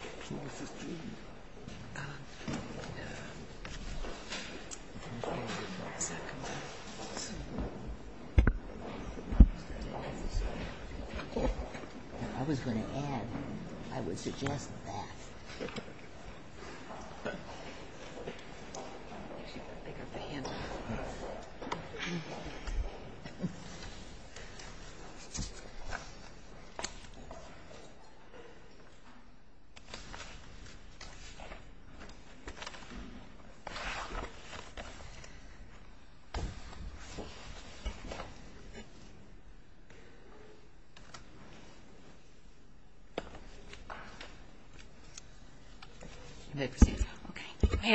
I was going to add, I would suggest that. May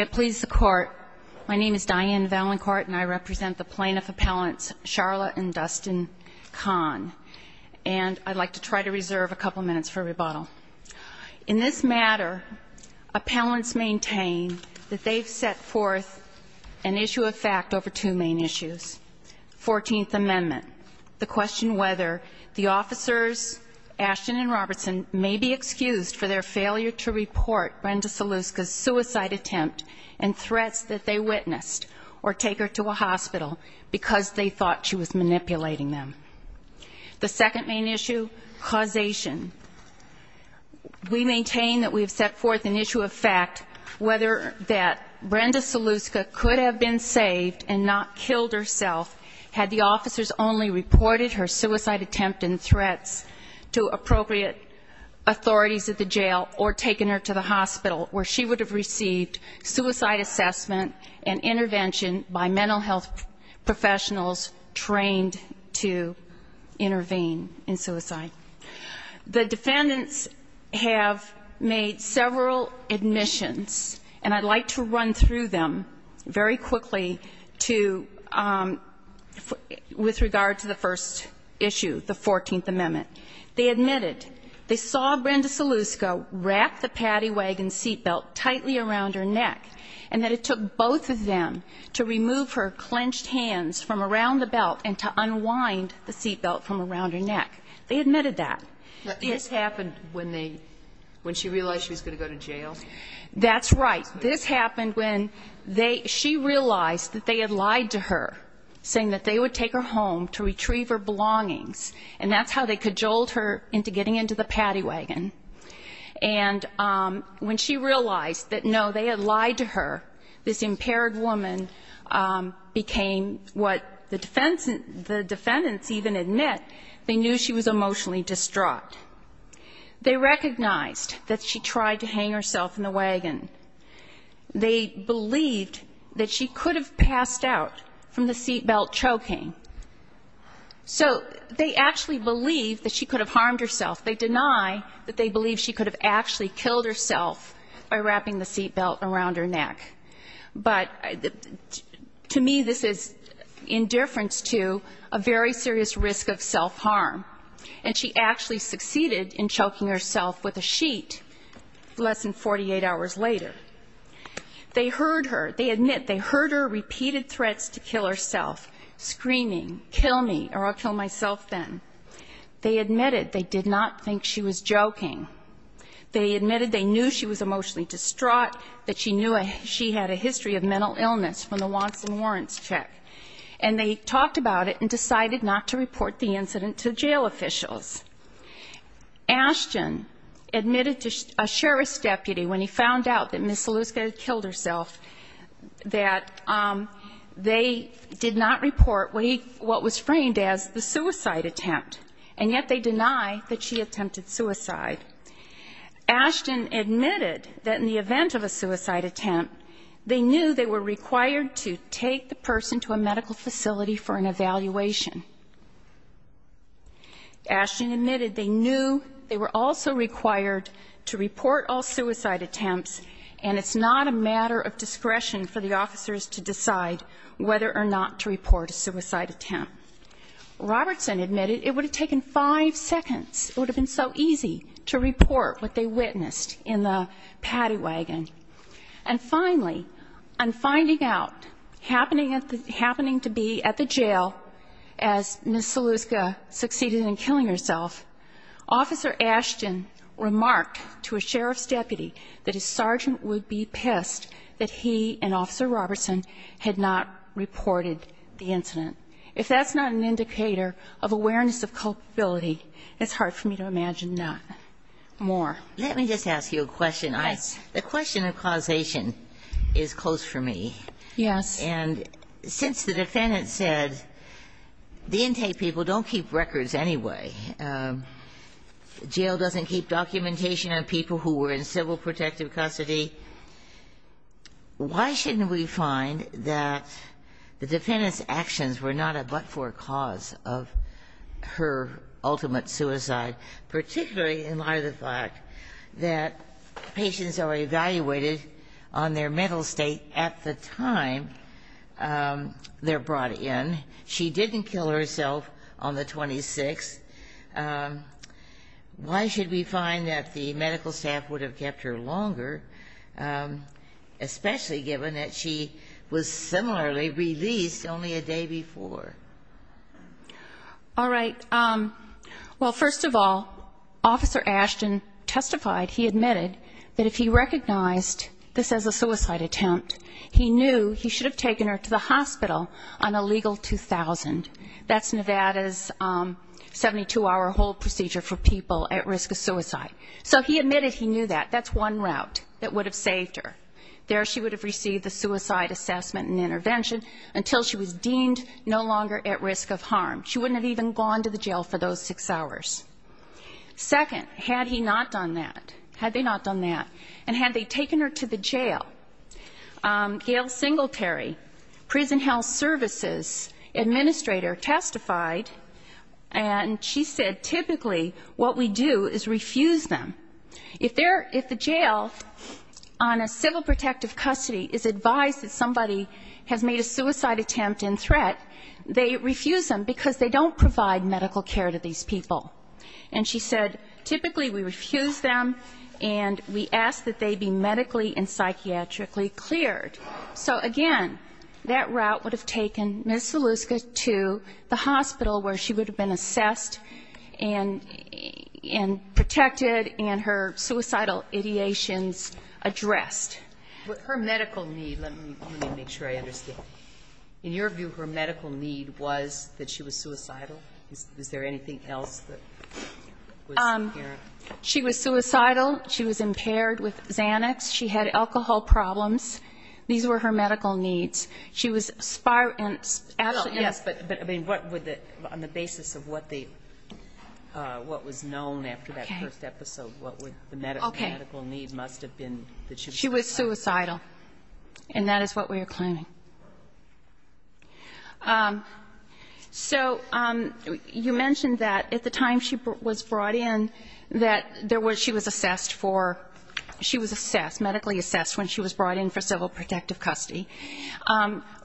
it please the Court. My name is Diane Valancourt and I represent the Plaintiff Appellants Sharla and Dustin Kahn. And I'd like to try to reserve a couple minutes for rebuttal. In this matter, appellants maintain that they've set forth an issue of fact over two main issues. Fourteenth Amendment, the question whether the officers, Ashton and Robertson, may be excused for their failure to report Brenda Saluska's suicide attempt and threats that they witnessed or take her to a hospital because they thought she was manipulating them. The second main issue, causation. We maintain that we have set forth an issue of fact, whether that Brenda Saluska could have been saved and not killed herself had the officers only reported her suicide attempt and threats to appropriate authorities at the jail or taken her to the hospital, where she would have received suicide assessment and intervention by mental health professionals trained to intervene in suicide. The defendants have made several admissions, and I'd like to run through them very quickly to, with regard to the first issue, the Fourteenth Amendment. They admitted they saw Brenda Saluska wrap the paddy wagon seat belt tightly around her neck and that it took both of them to remove her clenched hands from around the belt and to unwind the seat belt from around her neck. They admitted that. This happened when they, when she realized she was going to go to jail? That's right. This happened when they, she realized that they had lied to her, saying that they would take her home to retrieve her belongings, and that's how they cajoled her into getting into the paddy wagon. And when she realized that, no, they had lied to her, this impaired woman became what the defense, the defendants even admit, they knew she was emotionally distraught. They recognized that she tried to hang herself in the wagon. They believed that she could have passed out from the seat belt choking. So they actually believed that she could have harmed herself. They deny that they believe she could have actually killed herself by wrapping the seat belt around her neck. But to me this is indifference to a very serious risk of self-harm. And she actually succeeded in choking herself with a sheet less than 48 hours later. They heard her. They admit they heard her repeated threats to kill herself, screaming, kill me or I'll kill myself then. They admitted they did not think she was joking. They admitted they knew she was emotionally distraught, that she knew she had a history of mental illness from the Watson warrants check. And they talked about it and decided not to report the incident to jail officials. Ashton admitted to a sheriff's deputy when he found out that Ms. Saluska had killed herself that they did not report what was framed as the suicide attempt. And yet they deny that she attempted suicide. Ashton admitted that in the event of a suicide attempt, they knew they were required to take the person to a medical facility for an evaluation. Ashton admitted they knew they were also required to report all suicide attempts and it's not a matter of discretion for the officers to decide whether or not to report a suicide attempt. Robertson admitted it would have taken five seconds. It would have been so easy to report what they witnessed in the paddy wagon. And finally, on finding out, happening to be at the jail as Ms. Saluska succeeded in killing herself, Officer Ashton remarked to a sheriff's deputy that his sergeant would be pissed that he and Officer Robertson had not reported the incident. If that's not an indicator of awareness of culpability, it's hard for me to imagine more. Let me just ask you a question. Yes. The question of causation is close for me. Yes. And since the defendant said the intake people don't keep records anyway, jail doesn't keep documentation on people who were in civil protective custody, why shouldn't we find that the defendant's actions were not a but-for cause of her ultimate suicide, particularly in light of the fact that patients are evaluated on their mental state at the time they're brought in. She didn't kill herself on the 26th. Why should we find that the medical staff would have kept her longer, especially given that she was similarly released only a day before? All right. Well, first of all, Officer Ashton testified, he admitted, that if he recognized this as a suicide attempt, he knew he should have taken her to the hospital on a legal 2000. That's Nevada's 72-hour hold procedure for people at risk of suicide. So he admitted he knew that. That's one route that would have saved her. There she would have received the suicide assessment and intervention until she was deemed no longer at risk of harm. She wouldn't have even gone to the jail for those six hours. Second, had he not done that, had they not done that, and had they taken her to the jail, Gayle Singletary, prison health services administrator, testified, and she said typically what we do is refuse them. If the jail on a civil protective custody is advised that somebody has made a suicide attempt in threat, they refuse them because they don't provide medical care to these people. And she said typically we refuse them and we ask that they be medically and psychiatrically cleared. So, again, that route would have taken Ms. Zaluska to the hospital where she would have been assessed and protected and her suicidal ideations addressed. Her medical need, let me make sure I understand. In your view, her medical need was that she was suicidal? Is there anything else that was apparent? She was suicidal. She was impaired with Xanax. She had alcohol problems. These were her medical needs. She was spiraled and actually yes, but on the basis of what was known after that first episode, what would the medical need must have been that she was suicidal? And that is what we are claiming. So you mentioned that at the time she was brought in that she was assessed for, she was assessed, medically assessed when she was brought in for civil protective custody.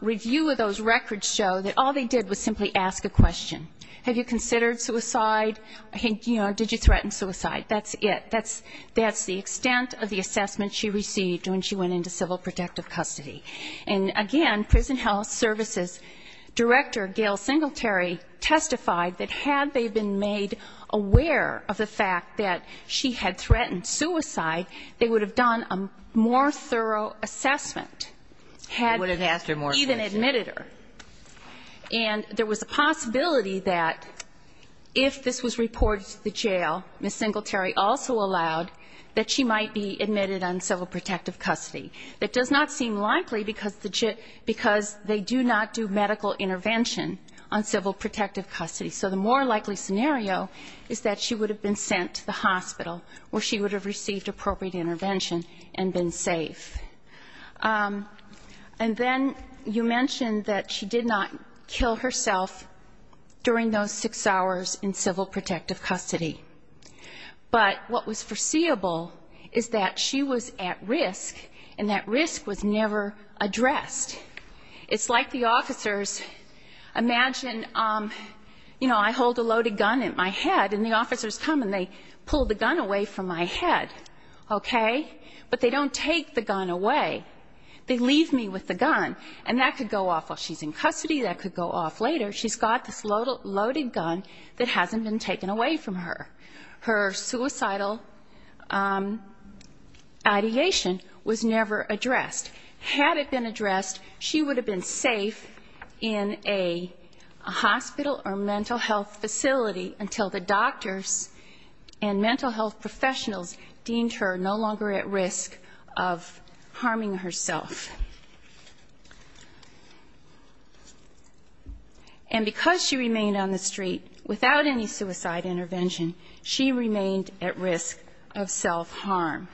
Review of those records show that all they did was simply ask a question. Have you considered suicide? Did you threaten suicide? That's it. That's the extent of the assessment she received when she went into civil protective custody. And again, prison health services director, Gail Singletary, testified that had they been made aware of the fact that she had threatened suicide, they would have done a more thorough assessment. Would have asked her more questions. Even admitted her. Meanwhile, Ms. Singletary also allowed that she might be admitted on civil protective custody. That does not seem likely because they do not do medical intervention on civil protective custody. So the more likely scenario is that she would have been sent to the hospital where she would have received appropriate intervention and been safe. And then you mentioned that she did not kill herself during those six hours in civil protective custody. But what was foreseeable is that she was at risk, and that risk was never addressed. It's like the officers, imagine, you know, I hold a loaded gun in my head and the officers come and they pull the gun away from my head, okay? But they don't take the gun away. They leave me with the gun. And that could go off while she's in custody. That could go off later. She's got this loaded gun that hasn't been taken away from her. Her suicidal ideation was never addressed. Had it been addressed, she would have been safe in a hospital or mental health facility until the doctors and mental health professionals deemed her no longer at risk of harming herself. And because she remained on the street without any suicide intervention, she remained at risk of self-harm.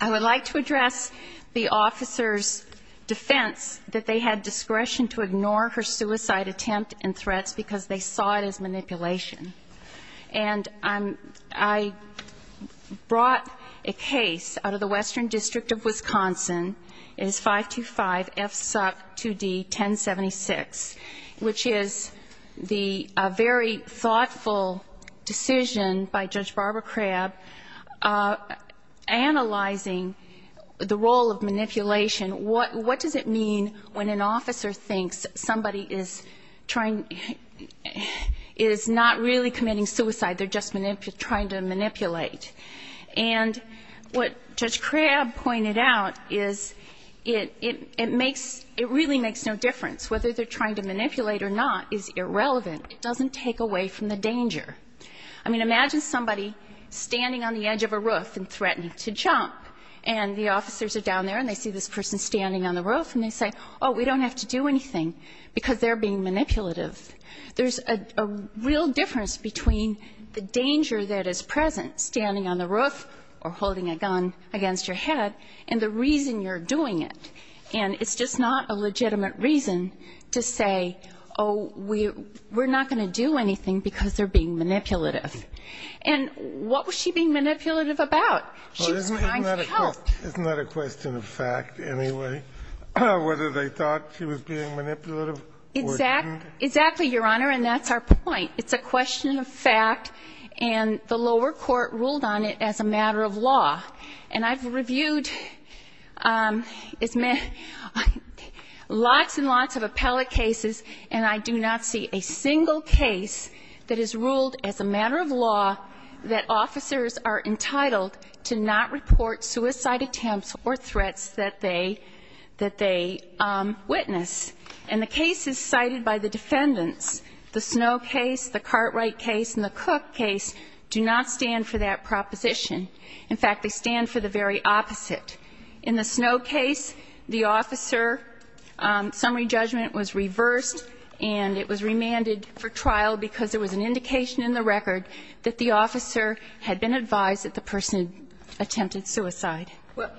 I would like to address the officer's defense that they had discretion to ignore her suicide attempt and threats because they saw it as manipulation. And I brought a case out of the Western District of Wisconsin. It is 525-FSUC-2D. 1076, which is a very thoughtful decision by Judge Barbara Crabb analyzing the role of manipulation. What does it mean when an officer thinks somebody is not really committing suicide, they're just trying to manipulate? And what Judge Crabb pointed out is it makes — it really makes no difference whether they're trying to manipulate or not is irrelevant. It doesn't take away from the danger. I mean, imagine somebody standing on the edge of a roof and threatening to jump. And the officers are down there, and they see this person standing on the roof, and they say, oh, we don't have to do anything because they're being manipulative. There's a real difference between the danger that is present, standing on the roof or holding a gun against your head, and the reason you're doing it. And it's just not a legitimate reason to say, oh, we're not going to do anything because they're being manipulative. And what was she being manipulative about? She was trying to help. It's not a question of fact anyway, whether they thought she was being manipulative. Exactly, Your Honor, and that's our point. It's a question of fact, and the lower court ruled on it as a matter of law. And I've reviewed lots and lots of appellate cases, and I do not see a single case that is ruled as a matter of law that officers are entitled to not report suicide attempts or threats that they witness. And the cases cited by the defendants, the Snow case, the Cartwright case and the Cook case, do not stand for that proposition. In fact, they stand for the very opposite. In the Snow case, the officer summary judgment was reversed, and it was remanded for trial because there was an indication in the record that the officer had been advised that the person attempted suicide. Well,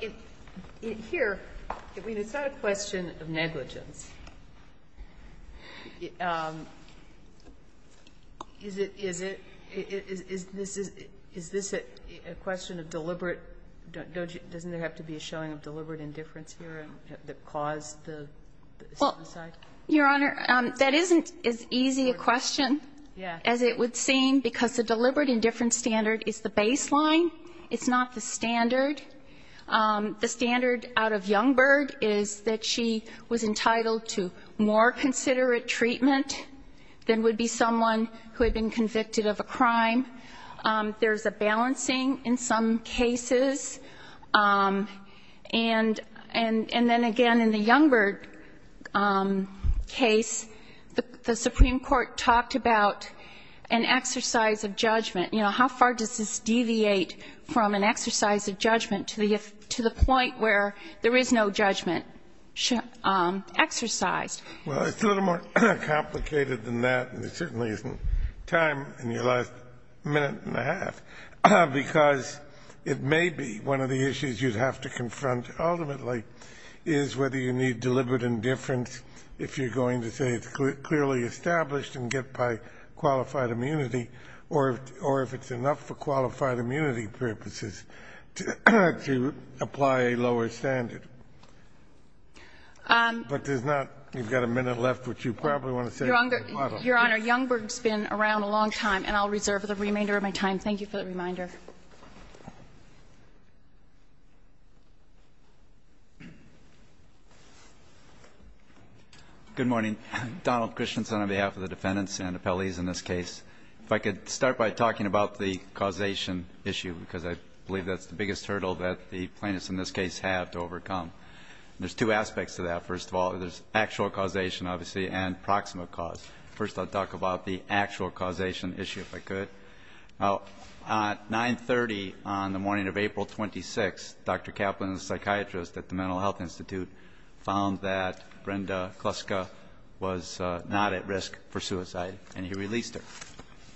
here, I mean, it's not a question of negligence. Is it? Is this a question of deliberate? Doesn't there have to be a showing of deliberate indifference here that caused the suicide? Well, Your Honor, that isn't as easy a question as it would seem because the deliberate indifference standard is the baseline. It's not the standard. The standard out of Youngberg is that she was entitled to more considerate treatment than would be someone who had been convicted of a crime. There's a balancing in some cases. And then, again, in the Youngberg case, the Supreme Court talked about an exercise of judgment. You know, how far does this deviate from an exercise of judgment to the point where there is no judgment exercised? Well, it's a little more complicated than that, and there certainly isn't time in your last minute and a half, because it may be one of the issues you'd have to confront ultimately is whether you need deliberate indifference if you're going to say it's enough for qualified immunity purposes to apply a lower standard. But there's not you've got a minute left, which you probably want to say. Your Honor, Youngberg's been around a long time, and I'll reserve the remainder of my time. Thank you for the reminder. Good morning. Donald Christensen on behalf of the defendants and appellees in this case. If I could start by talking about the causation issue, because I believe that's the biggest hurdle that the plaintiffs in this case have to overcome. There's two aspects to that, first of all. There's actual causation, obviously, and proximate cause. First, I'll talk about the actual causation issue, if I could. Now, at 930 on the morning of April 26th, Dr. Kaplan, the psychiatrist at the Mental Health Institute, found that Brenda Kluska was not at risk for suicide, and he released her.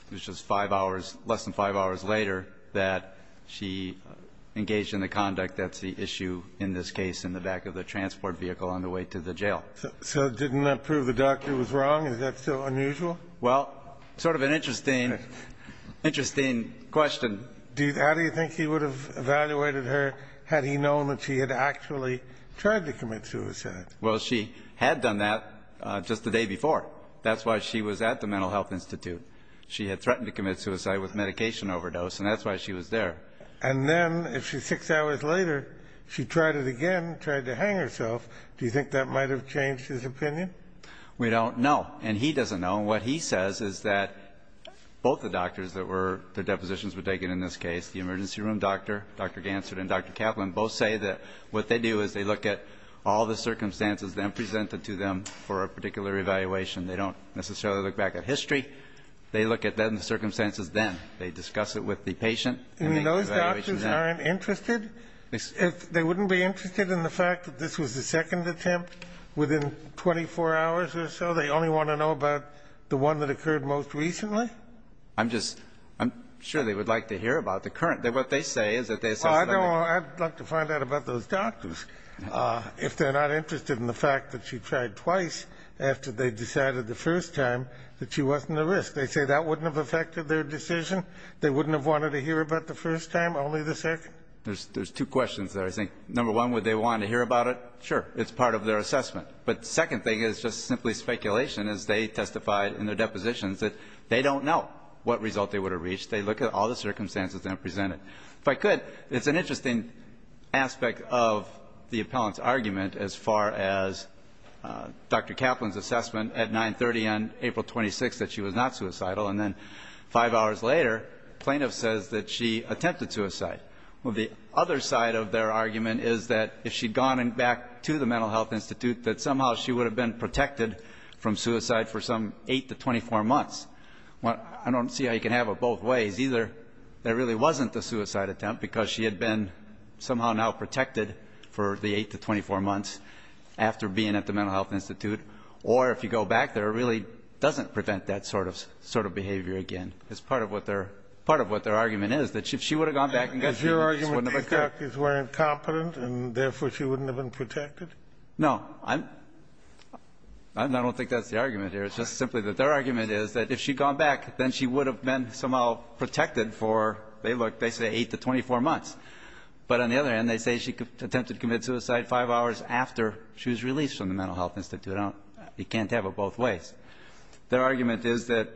It was just five hours, less than five hours later, that she engaged in the conduct that's the issue in this case in the back of the transport vehicle on the way to the jail. So didn't that prove the doctor was wrong? Is that still unusual? Well, sort of an interesting, interesting question. How do you think he would have evaluated her had he known that she had actually tried to commit suicide? Well, she had done that just the day before. That's why she was at the Mental Health Institute. She had threatened to commit suicide with medication overdose, and that's why she was there. And then, if she, six hours later, she tried it again, tried to hang herself, do you think that might have changed his opinion? We don't know. And he doesn't know. And what he says is that both the doctors that were, their depositions were taken in this case, the emergency room doctor, Dr. Gansert and Dr. Kaplan, both say that what they do is they look at all the circumstances then presented to them for a particular evaluation. They don't necessarily look back at history. They look at the circumstances then. They discuss it with the patient. I mean, those doctors aren't interested? They wouldn't be interested in the fact that this was the second attempt within 24 hours or so? They only want to know about the one that occurred most recently? I'm just, I'm sure they would like to hear about the current. What they say is that they assess it every time. Well, I'd like to find out about those doctors if they're not interested in the fact that she tried twice after they decided the first time that she wasn't a risk. They say that wouldn't have affected their decision? They wouldn't have wanted to hear about the first time, only the second? There's two questions there. I think, number one, would they want to hear about it? Sure. It's part of their assessment. But the second thing is just simply speculation, as they testified in their depositions that they don't know what result they would have reached. They look at all the circumstances then presented. If I could, it's an interesting aspect of the appellant's argument as far as Dr. Kaplan's assessment at 930 on April 26th that she was not suicidal, and then five hours later, plaintiff says that she attempted suicide. Well, the other side of their argument is that if she'd gone back to the Mental Health Institute, that somehow she would have been protected from suicide for some 8 to 24 months. I don't see how you can have it both ways. Either there really wasn't a suicide attempt because she had been somehow now protected for the 8 to 24 months after being at the Mental Health Institute, or if you go back there, it really doesn't prevent that sort of behavior again. It's part of what their argument is, that if she would have gone back and got treatment, this wouldn't have occurred. Is your argument that these doctors weren't competent, and therefore she wouldn't have been protected? No. I don't think that's the argument here. It's just simply that their argument is that if she'd gone back, then she would have been somehow protected for, they say, 8 to 24 months. But on the other hand, they say she attempted to commit suicide five hours after she was released from the Mental Health Institute. You can't have it both ways. Their argument is that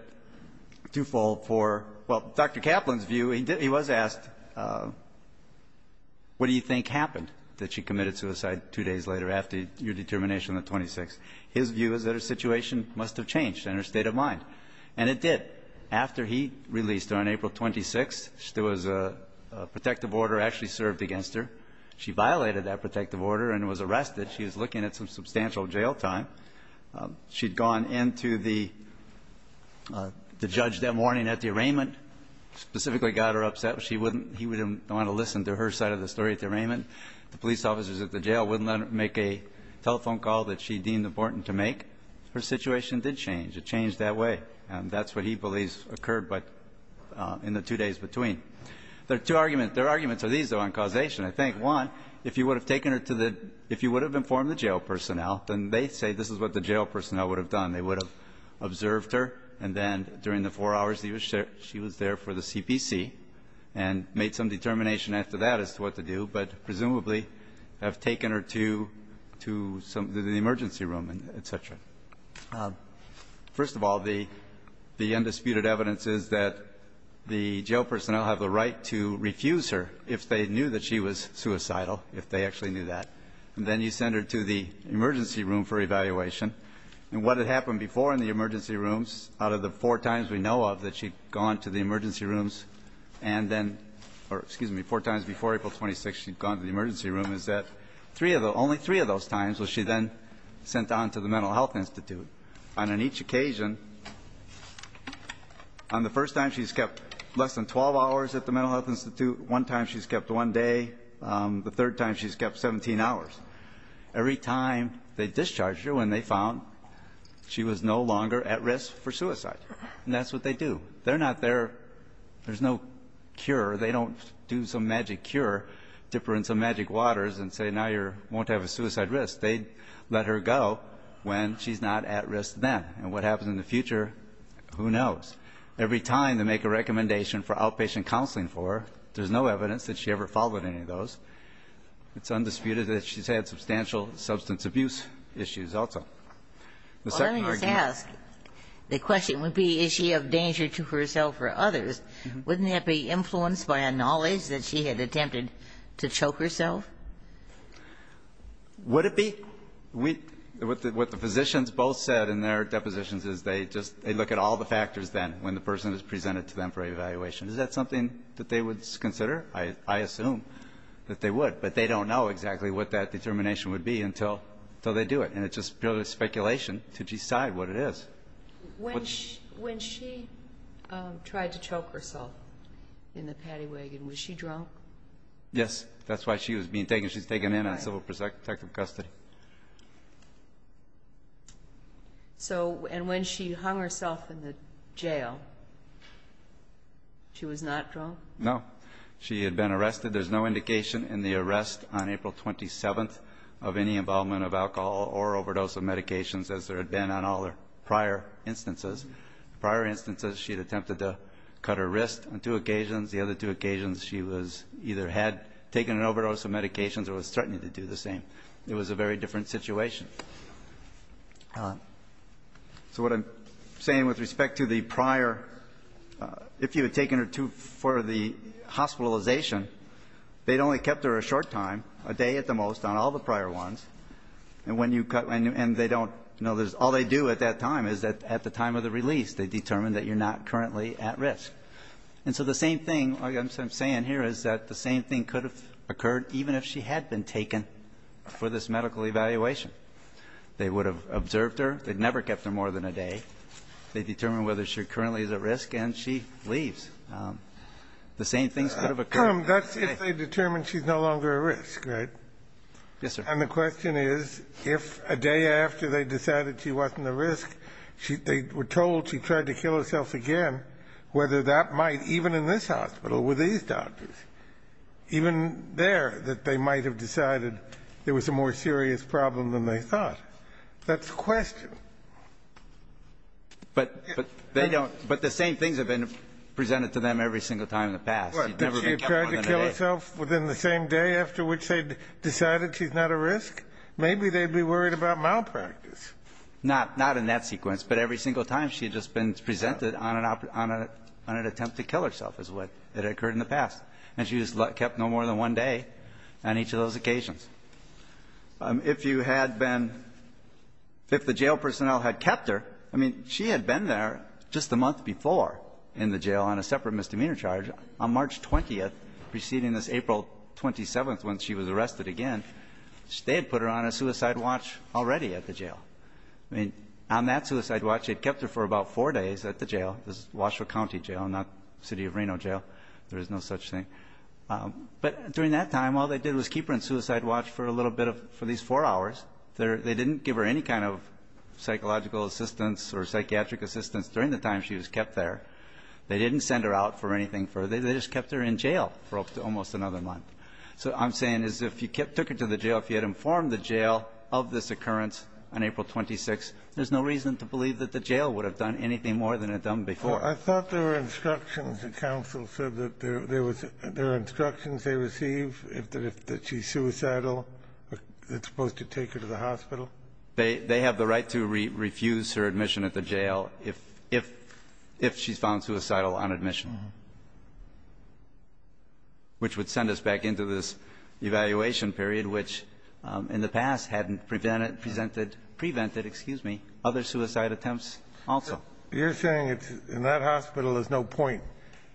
twofold for, well, Dr. Kaplan's view, he was asked, what do you think happened that she committed suicide two days later after your determination on the 26th? His view is that her situation must have changed and her state of mind. And it did. After he released her on April 26th, there was a protective order actually served against her. She violated that protective order and was arrested. She was looking at some substantial jail time. She'd gone in to the judge that morning at the arraignment, specifically got her upset. She wouldn't he wouldn't want to listen to her side of the story at the arraignment. The police officers at the jail wouldn't let her make a telephone call that she deemed important to make. Her situation did change. It changed that way. And that's what he believes occurred in the two days between. There are two arguments. Their arguments are these, though, on causation, I think. One, if you would have taken her to the if you would have informed the jail personnel, then they say this is what the jail personnel would have done. They would have observed her, and then during the four hours she was there for the CPC and made some determination after that as to what to do. But presumably have taken her to to the emergency room and et cetera. First of all, the the undisputed evidence is that the jail personnel have the right to refuse her if they knew that she was suicidal, if they actually knew that. And then you send her to the emergency room for evaluation. And what had happened before in the emergency rooms out of the four times we know of that she'd gone to the emergency rooms and then, or excuse me, four times before April 26th she'd gone to the emergency room, is that three of the only three of those times was she then sent on to the Mental Health Institute. And on each occasion, on the first time she's kept less than 12 hours at the Mental Health Institute, one time she's kept one day, the third time she's kept 17 hours. Every time they discharged her when they found she was no longer at risk for suicide. And that's what they do. They're not there. There's no cure. They don't do some magic cure, dip her in some magic waters and say now you're won't have a suicide risk. They let her go when she's not at risk then. And what happens in the future, who knows. Every time they make a recommendation for outpatient counseling for her, there's no evidence that she ever followed any of those. It's undisputed that she's had substantial substance abuse issues also. The second argument. Well, let me just ask, the question would be is she of danger to herself or others? Wouldn't that be influenced by a knowledge that she had attempted to choke herself? Would it be? What the physicians both said in their depositions is they just, they look at all the factors then when the person is presented to them for evaluation. Is that something that they would consider? I assume that they would. But they don't know exactly what that determination would be until they do it. And it's just purely speculation to decide what it is. When she tried to choke herself in the paddy wagon, was she drunk? Yes. That's why she was being taken. She was taken in on civil protective custody. And when she hung herself in the jail, she was not drunk? No. She had been arrested. There's no indication in the arrest on April 27th of any involvement of alcohol or overdose of medications as there had been on all her prior instances. Prior instances, she had attempted to cut her wrist on two occasions. The other two occasions, she was, either had taken an overdose of medications or was threatening to do the same. It was a very different situation. So what I'm saying with respect to the prior, if you had taken her to, for the hospitalization, they'd only kept her a short time, a day at the most, on all the prior ones. And when you cut, and they don't know this. All they do at that time is that at the time of the release, they determine that you're not currently at risk. And so the same thing, like I'm saying here, is that the same thing could have occurred even if she had been taken for this medical evaluation. They would have observed her. They'd never kept her more than a day. They determine whether she currently is at risk, and she leaves. The same things could have occurred. That's if they determine she's no longer at risk, right? Yes, sir. And the question is, if a day after they decided she wasn't at risk, they were told she tried to kill herself again, whether that might, even in this hospital with these doctors, even there, that they might have decided there was a more serious problem than they thought. That's the question. But they don't. But the same things have been presented to them every single time in the past. What, that she had tried to kill herself within the same day after which they decided she's not at risk? Maybe they'd be worried about malpractice. Not in that sequence. But every single time she had just been presented on an attempt to kill herself is what had occurred in the past. And she was kept no more than one day on each of those occasions. If you had been ‑‑ if the jail personnel had kept her, I mean, she had been there just the month before in the jail on a separate misdemeanor charge. On March 20th, preceding this April 27th when she was arrested again, they had put her on a suicide watch already at the jail. I mean, on that suicide watch, they'd kept her for about four days at the jail. It was Washoe County Jail, not City of Reno Jail. There is no such thing. But during that time, all they did was keep her on suicide watch for a little bit of, for these four hours. They didn't give her any kind of psychological assistance or psychiatric assistance during the time she was kept there. They didn't send her out for anything further. They just kept her in jail for almost another month. So what I'm saying is if you took her to the jail, if you had informed the jail of this occurrence on April 26th, there's no reason to believe that the jail would have done anything more than it had done before. Kennedy. Well, I thought there were instructions. The counsel said that there was ‑‑ there are instructions they receive that if she's suicidal, it's supposed to take her to the hospital. They have the right to refuse her admission at the jail if she's found suicidal on admission, which would send us back into this evaluation period, which in the past hadn't prevented, presented, prevented, excuse me, other suicide attempts also. You're saying it's ‑‑ in that hospital, there's no point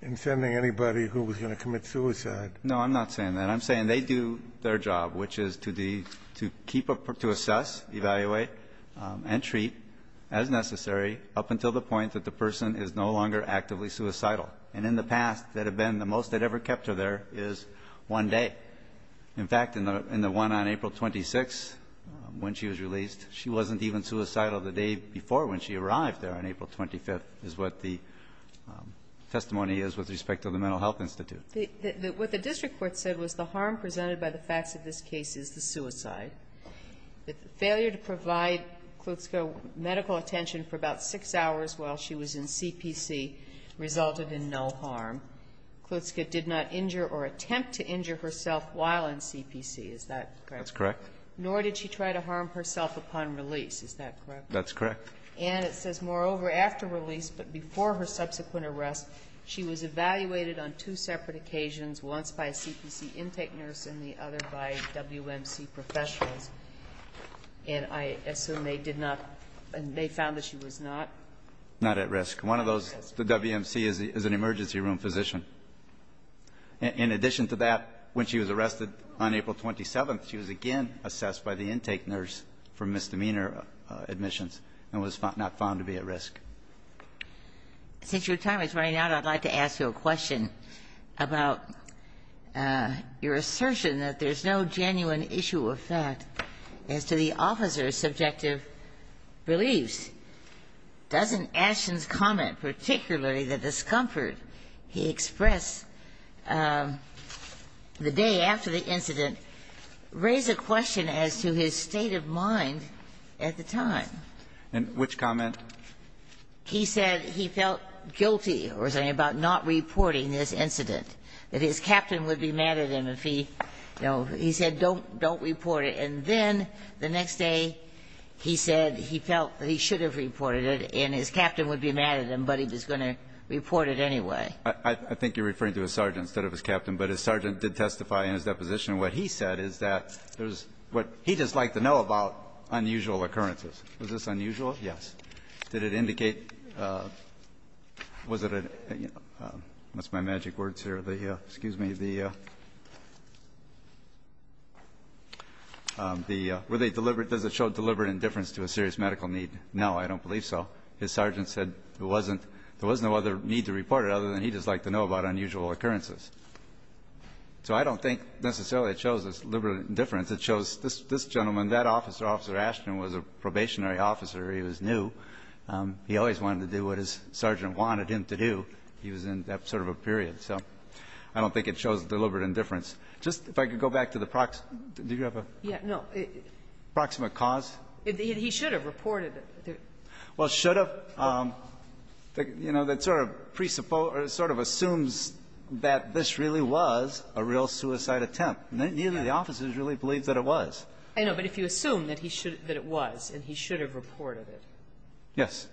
in sending anybody who was going to commit suicide. No, I'm not saying that. What I'm saying, they do their job, which is to keep a ‑‑ to assess, evaluate and treat as necessary up until the point that the person is no longer actively suicidal. And in the past, that had been the most that ever kept her there is one day. In fact, in the one on April 26th when she was released, she wasn't even suicidal the day before when she arrived there on April 25th is what the testimony is with respect to the Mental Health Institute. What the district court said was the harm presented by the facts of this case is the suicide. The failure to provide Klutzke medical attention for about six hours while she was in CPC resulted in no harm. Klutzke did not injure or attempt to injure herself while in CPC. Is that correct? That's correct. Nor did she try to harm herself upon release. Is that correct? That's correct. And it says, moreover, after release but before her subsequent arrest, she was evaluated on two separate occasions, once by a CPC intake nurse and the other by WMC professionals. And I assume they did not and they found that she was not? Not at risk. One of those, the WMC is an emergency room physician. In addition to that, when she was arrested on April 27th, she was again assessed by the intake nurse for misdemeanor admissions and was not found to be at risk. Since your time is running out, I'd like to ask you a question about your assertion that there's no genuine issue of fact as to the officer's subjective beliefs. Doesn't Ashton's comment, particularly the discomfort he expressed the day after the incident, raise a question as to his state of mind at the time? And which comment? He said he felt guilty or something about not reporting this incident, that his captain would be mad at him if he, you know, he said, don't report it. And then the next day, he said he felt that he should have reported it and his captain would be mad at him, but he was going to report it anyway. I think you're referring to his sergeant instead of his captain. But his sergeant did testify in his deposition. What he said is that there's what he does like to know about unusual occurrences. Is this unusual? Yes. Did it indicate, was it a, what's my magic words here? The, excuse me, the, were they deliberate, does it show deliberate indifference to a serious medical need? No, I don't believe so. His sergeant said there wasn't, there was no other need to report it other than he does like to know about unusual occurrences. So I don't think necessarily it shows deliberate indifference. It shows this gentleman, that officer, Officer Ashton, was a probationary officer. He was new. He always wanted to do what his sergeant wanted him to do. He was in that sort of a period. So I don't think it shows deliberate indifference. Just, if I could go back to the prox, do you have a? Yeah, no. Proximate cause? He should have reported it. Well, should have, you know, that sort of assumes that this really was a real suicide attempt. Neither of the officers really believed that it was. I know, but if you assume that he should, that it was, and he should have reported it. Yes.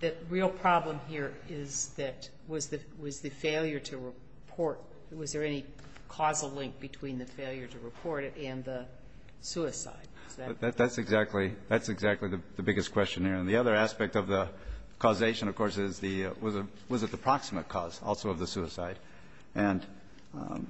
The real problem here is that, was the failure to report, was there any causal link between the failure to report it and the suicide? That's exactly, that's exactly the biggest question here. And the other aspect of the causation, of course, is the, was it the proximate cause also of the suicide? And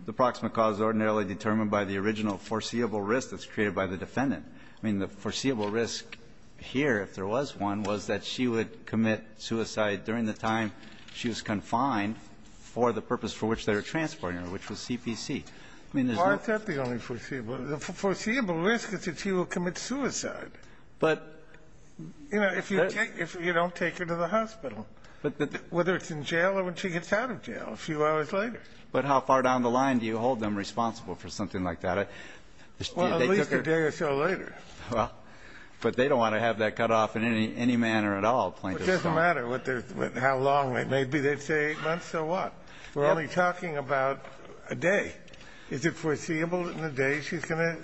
the proximate cause is ordinarily determined by the original foreseeable risk that's created by the defendant. I mean, the foreseeable risk here, if there was one, was that she would commit suicide during the time she was confined for the purpose for which they were transporting her, which was CPC. I mean, there's no. Why is that the only foreseeable? The foreseeable risk is that she will commit suicide. But. You know, if you take, if you don't take her to the hospital, whether it's in jail or when she gets out of jail a few hours later. But how far down the line do you hold them responsible for something like that? Well, at least a day or so later. Well, but they don't want to have that cut off in any, any manner at all. It doesn't matter what their, how long it may be. They'd say months or what? We're only talking about a day. Is it foreseeable in a day she's going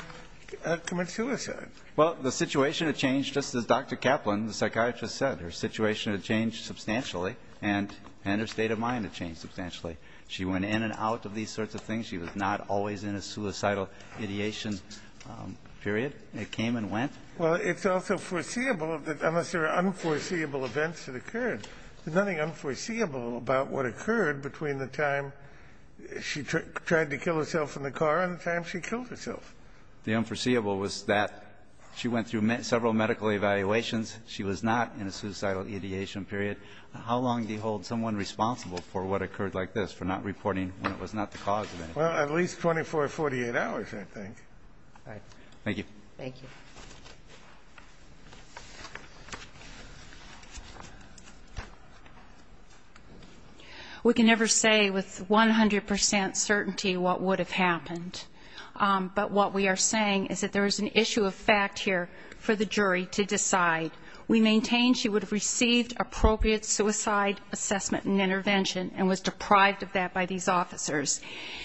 to commit suicide? Well, the situation had changed just as Dr. Kaplan, the psychiatrist, said. Her situation had changed substantially and her state of mind had changed substantially. She went in and out of these sorts of things. She was not always in a suicidal ideation period. It came and went. Well, it's also foreseeable that unless there are unforeseeable events that occurred, there's nothing unforeseeable about what occurred between the time she tried to kill herself in the car and the time she killed herself. The unforeseeable was that she went through several medical evaluations. She was not in a suicidal ideation period. How long do you hold someone responsible for what occurred like this, for not reporting when it was not the cause of it? Well, at least 24 or 48 hours, I think. All right. Thank you. Thank you. We can never say with 100 percent certainty what would have happened. But what we are saying is that there is an issue of fact here for the jury to decide. We maintain she would have received appropriate suicide assessment and intervention and was deprived of that by these officers.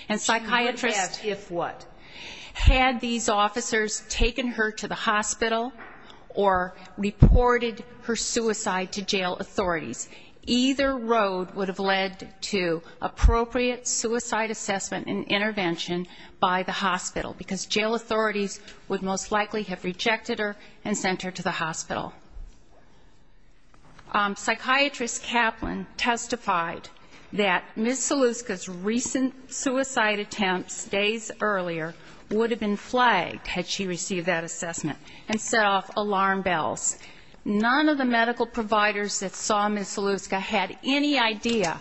She would have if what? Had these officers taken her to the hospital or reported her suicide to jail authorities, either road would have led to appropriate suicide assessment and intervention by the hospital, because jail authorities would most likely have rejected her and sent her to the hospital. Psychiatrist Kaplan testified that Ms. Saluska's recent suicide attempts days earlier would have been flagged, had she received that assessment, and set off alarm bells. None of the medical providers that saw Ms. Saluska had any idea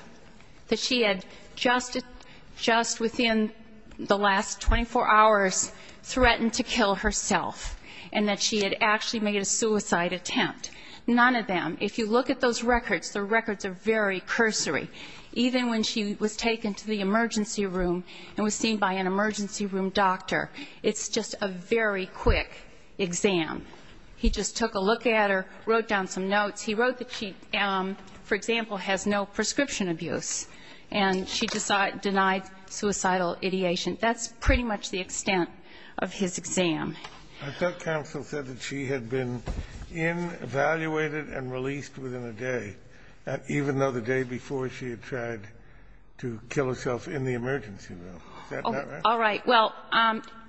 that she had just within the last 24 hours threatened to kill herself and that she had actually made a suicide attempt. None of them. If you look at those records, the records are very cursory. Even when she was taken to the emergency room and was seen by an emergency room doctor, it's just a very quick exam. He just took a look at her, wrote down some notes. He wrote that she, for example, has no prescription abuse, and she denied suicidal ideation. That's pretty much the extent of his exam. I thought counsel said that she had been in, evaluated, and released within a day, even though the day before she had tried to kill herself in the emergency room. Is that not right? All right. Well,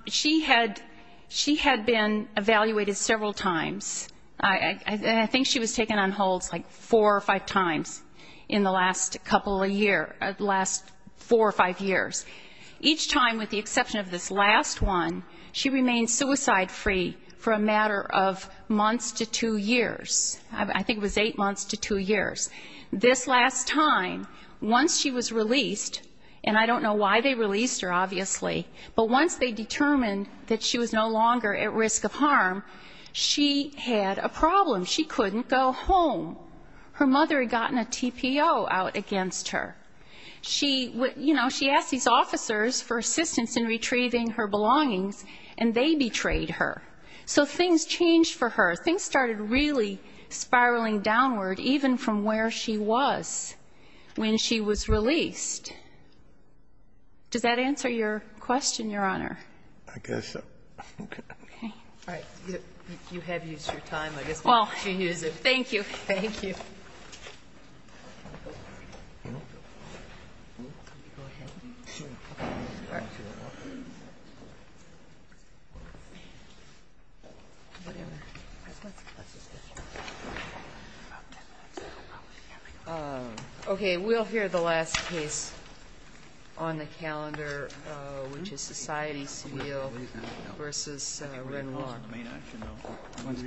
she had been evaluated several times. I think she was taken on holds like four or five times in the last couple of years, the last four or five years. Each time, with the exception of this last one, she remained suicide-free for a matter of months to two years. I think it was eight months to two years. This last time, once she was released, and I don't know why they released her, obviously, but once they determined that she was no longer at risk of harm, she had a problem. She couldn't go home. Her mother had gotten a TPO out against her. She, you know, she asked these officers for assistance in retrieving her belongings, and they betrayed her. So things changed for her. Things started really spiraling downward, even from where she was when she was released. Does that answer your question, Your Honor? I guess so. Okay. All right. You have used your time. I guess we'll let you use it. Thank you. Thank you. Go ahead. Okay. We'll hear the last case on the calendar, which is Society Seville v. Wren Long.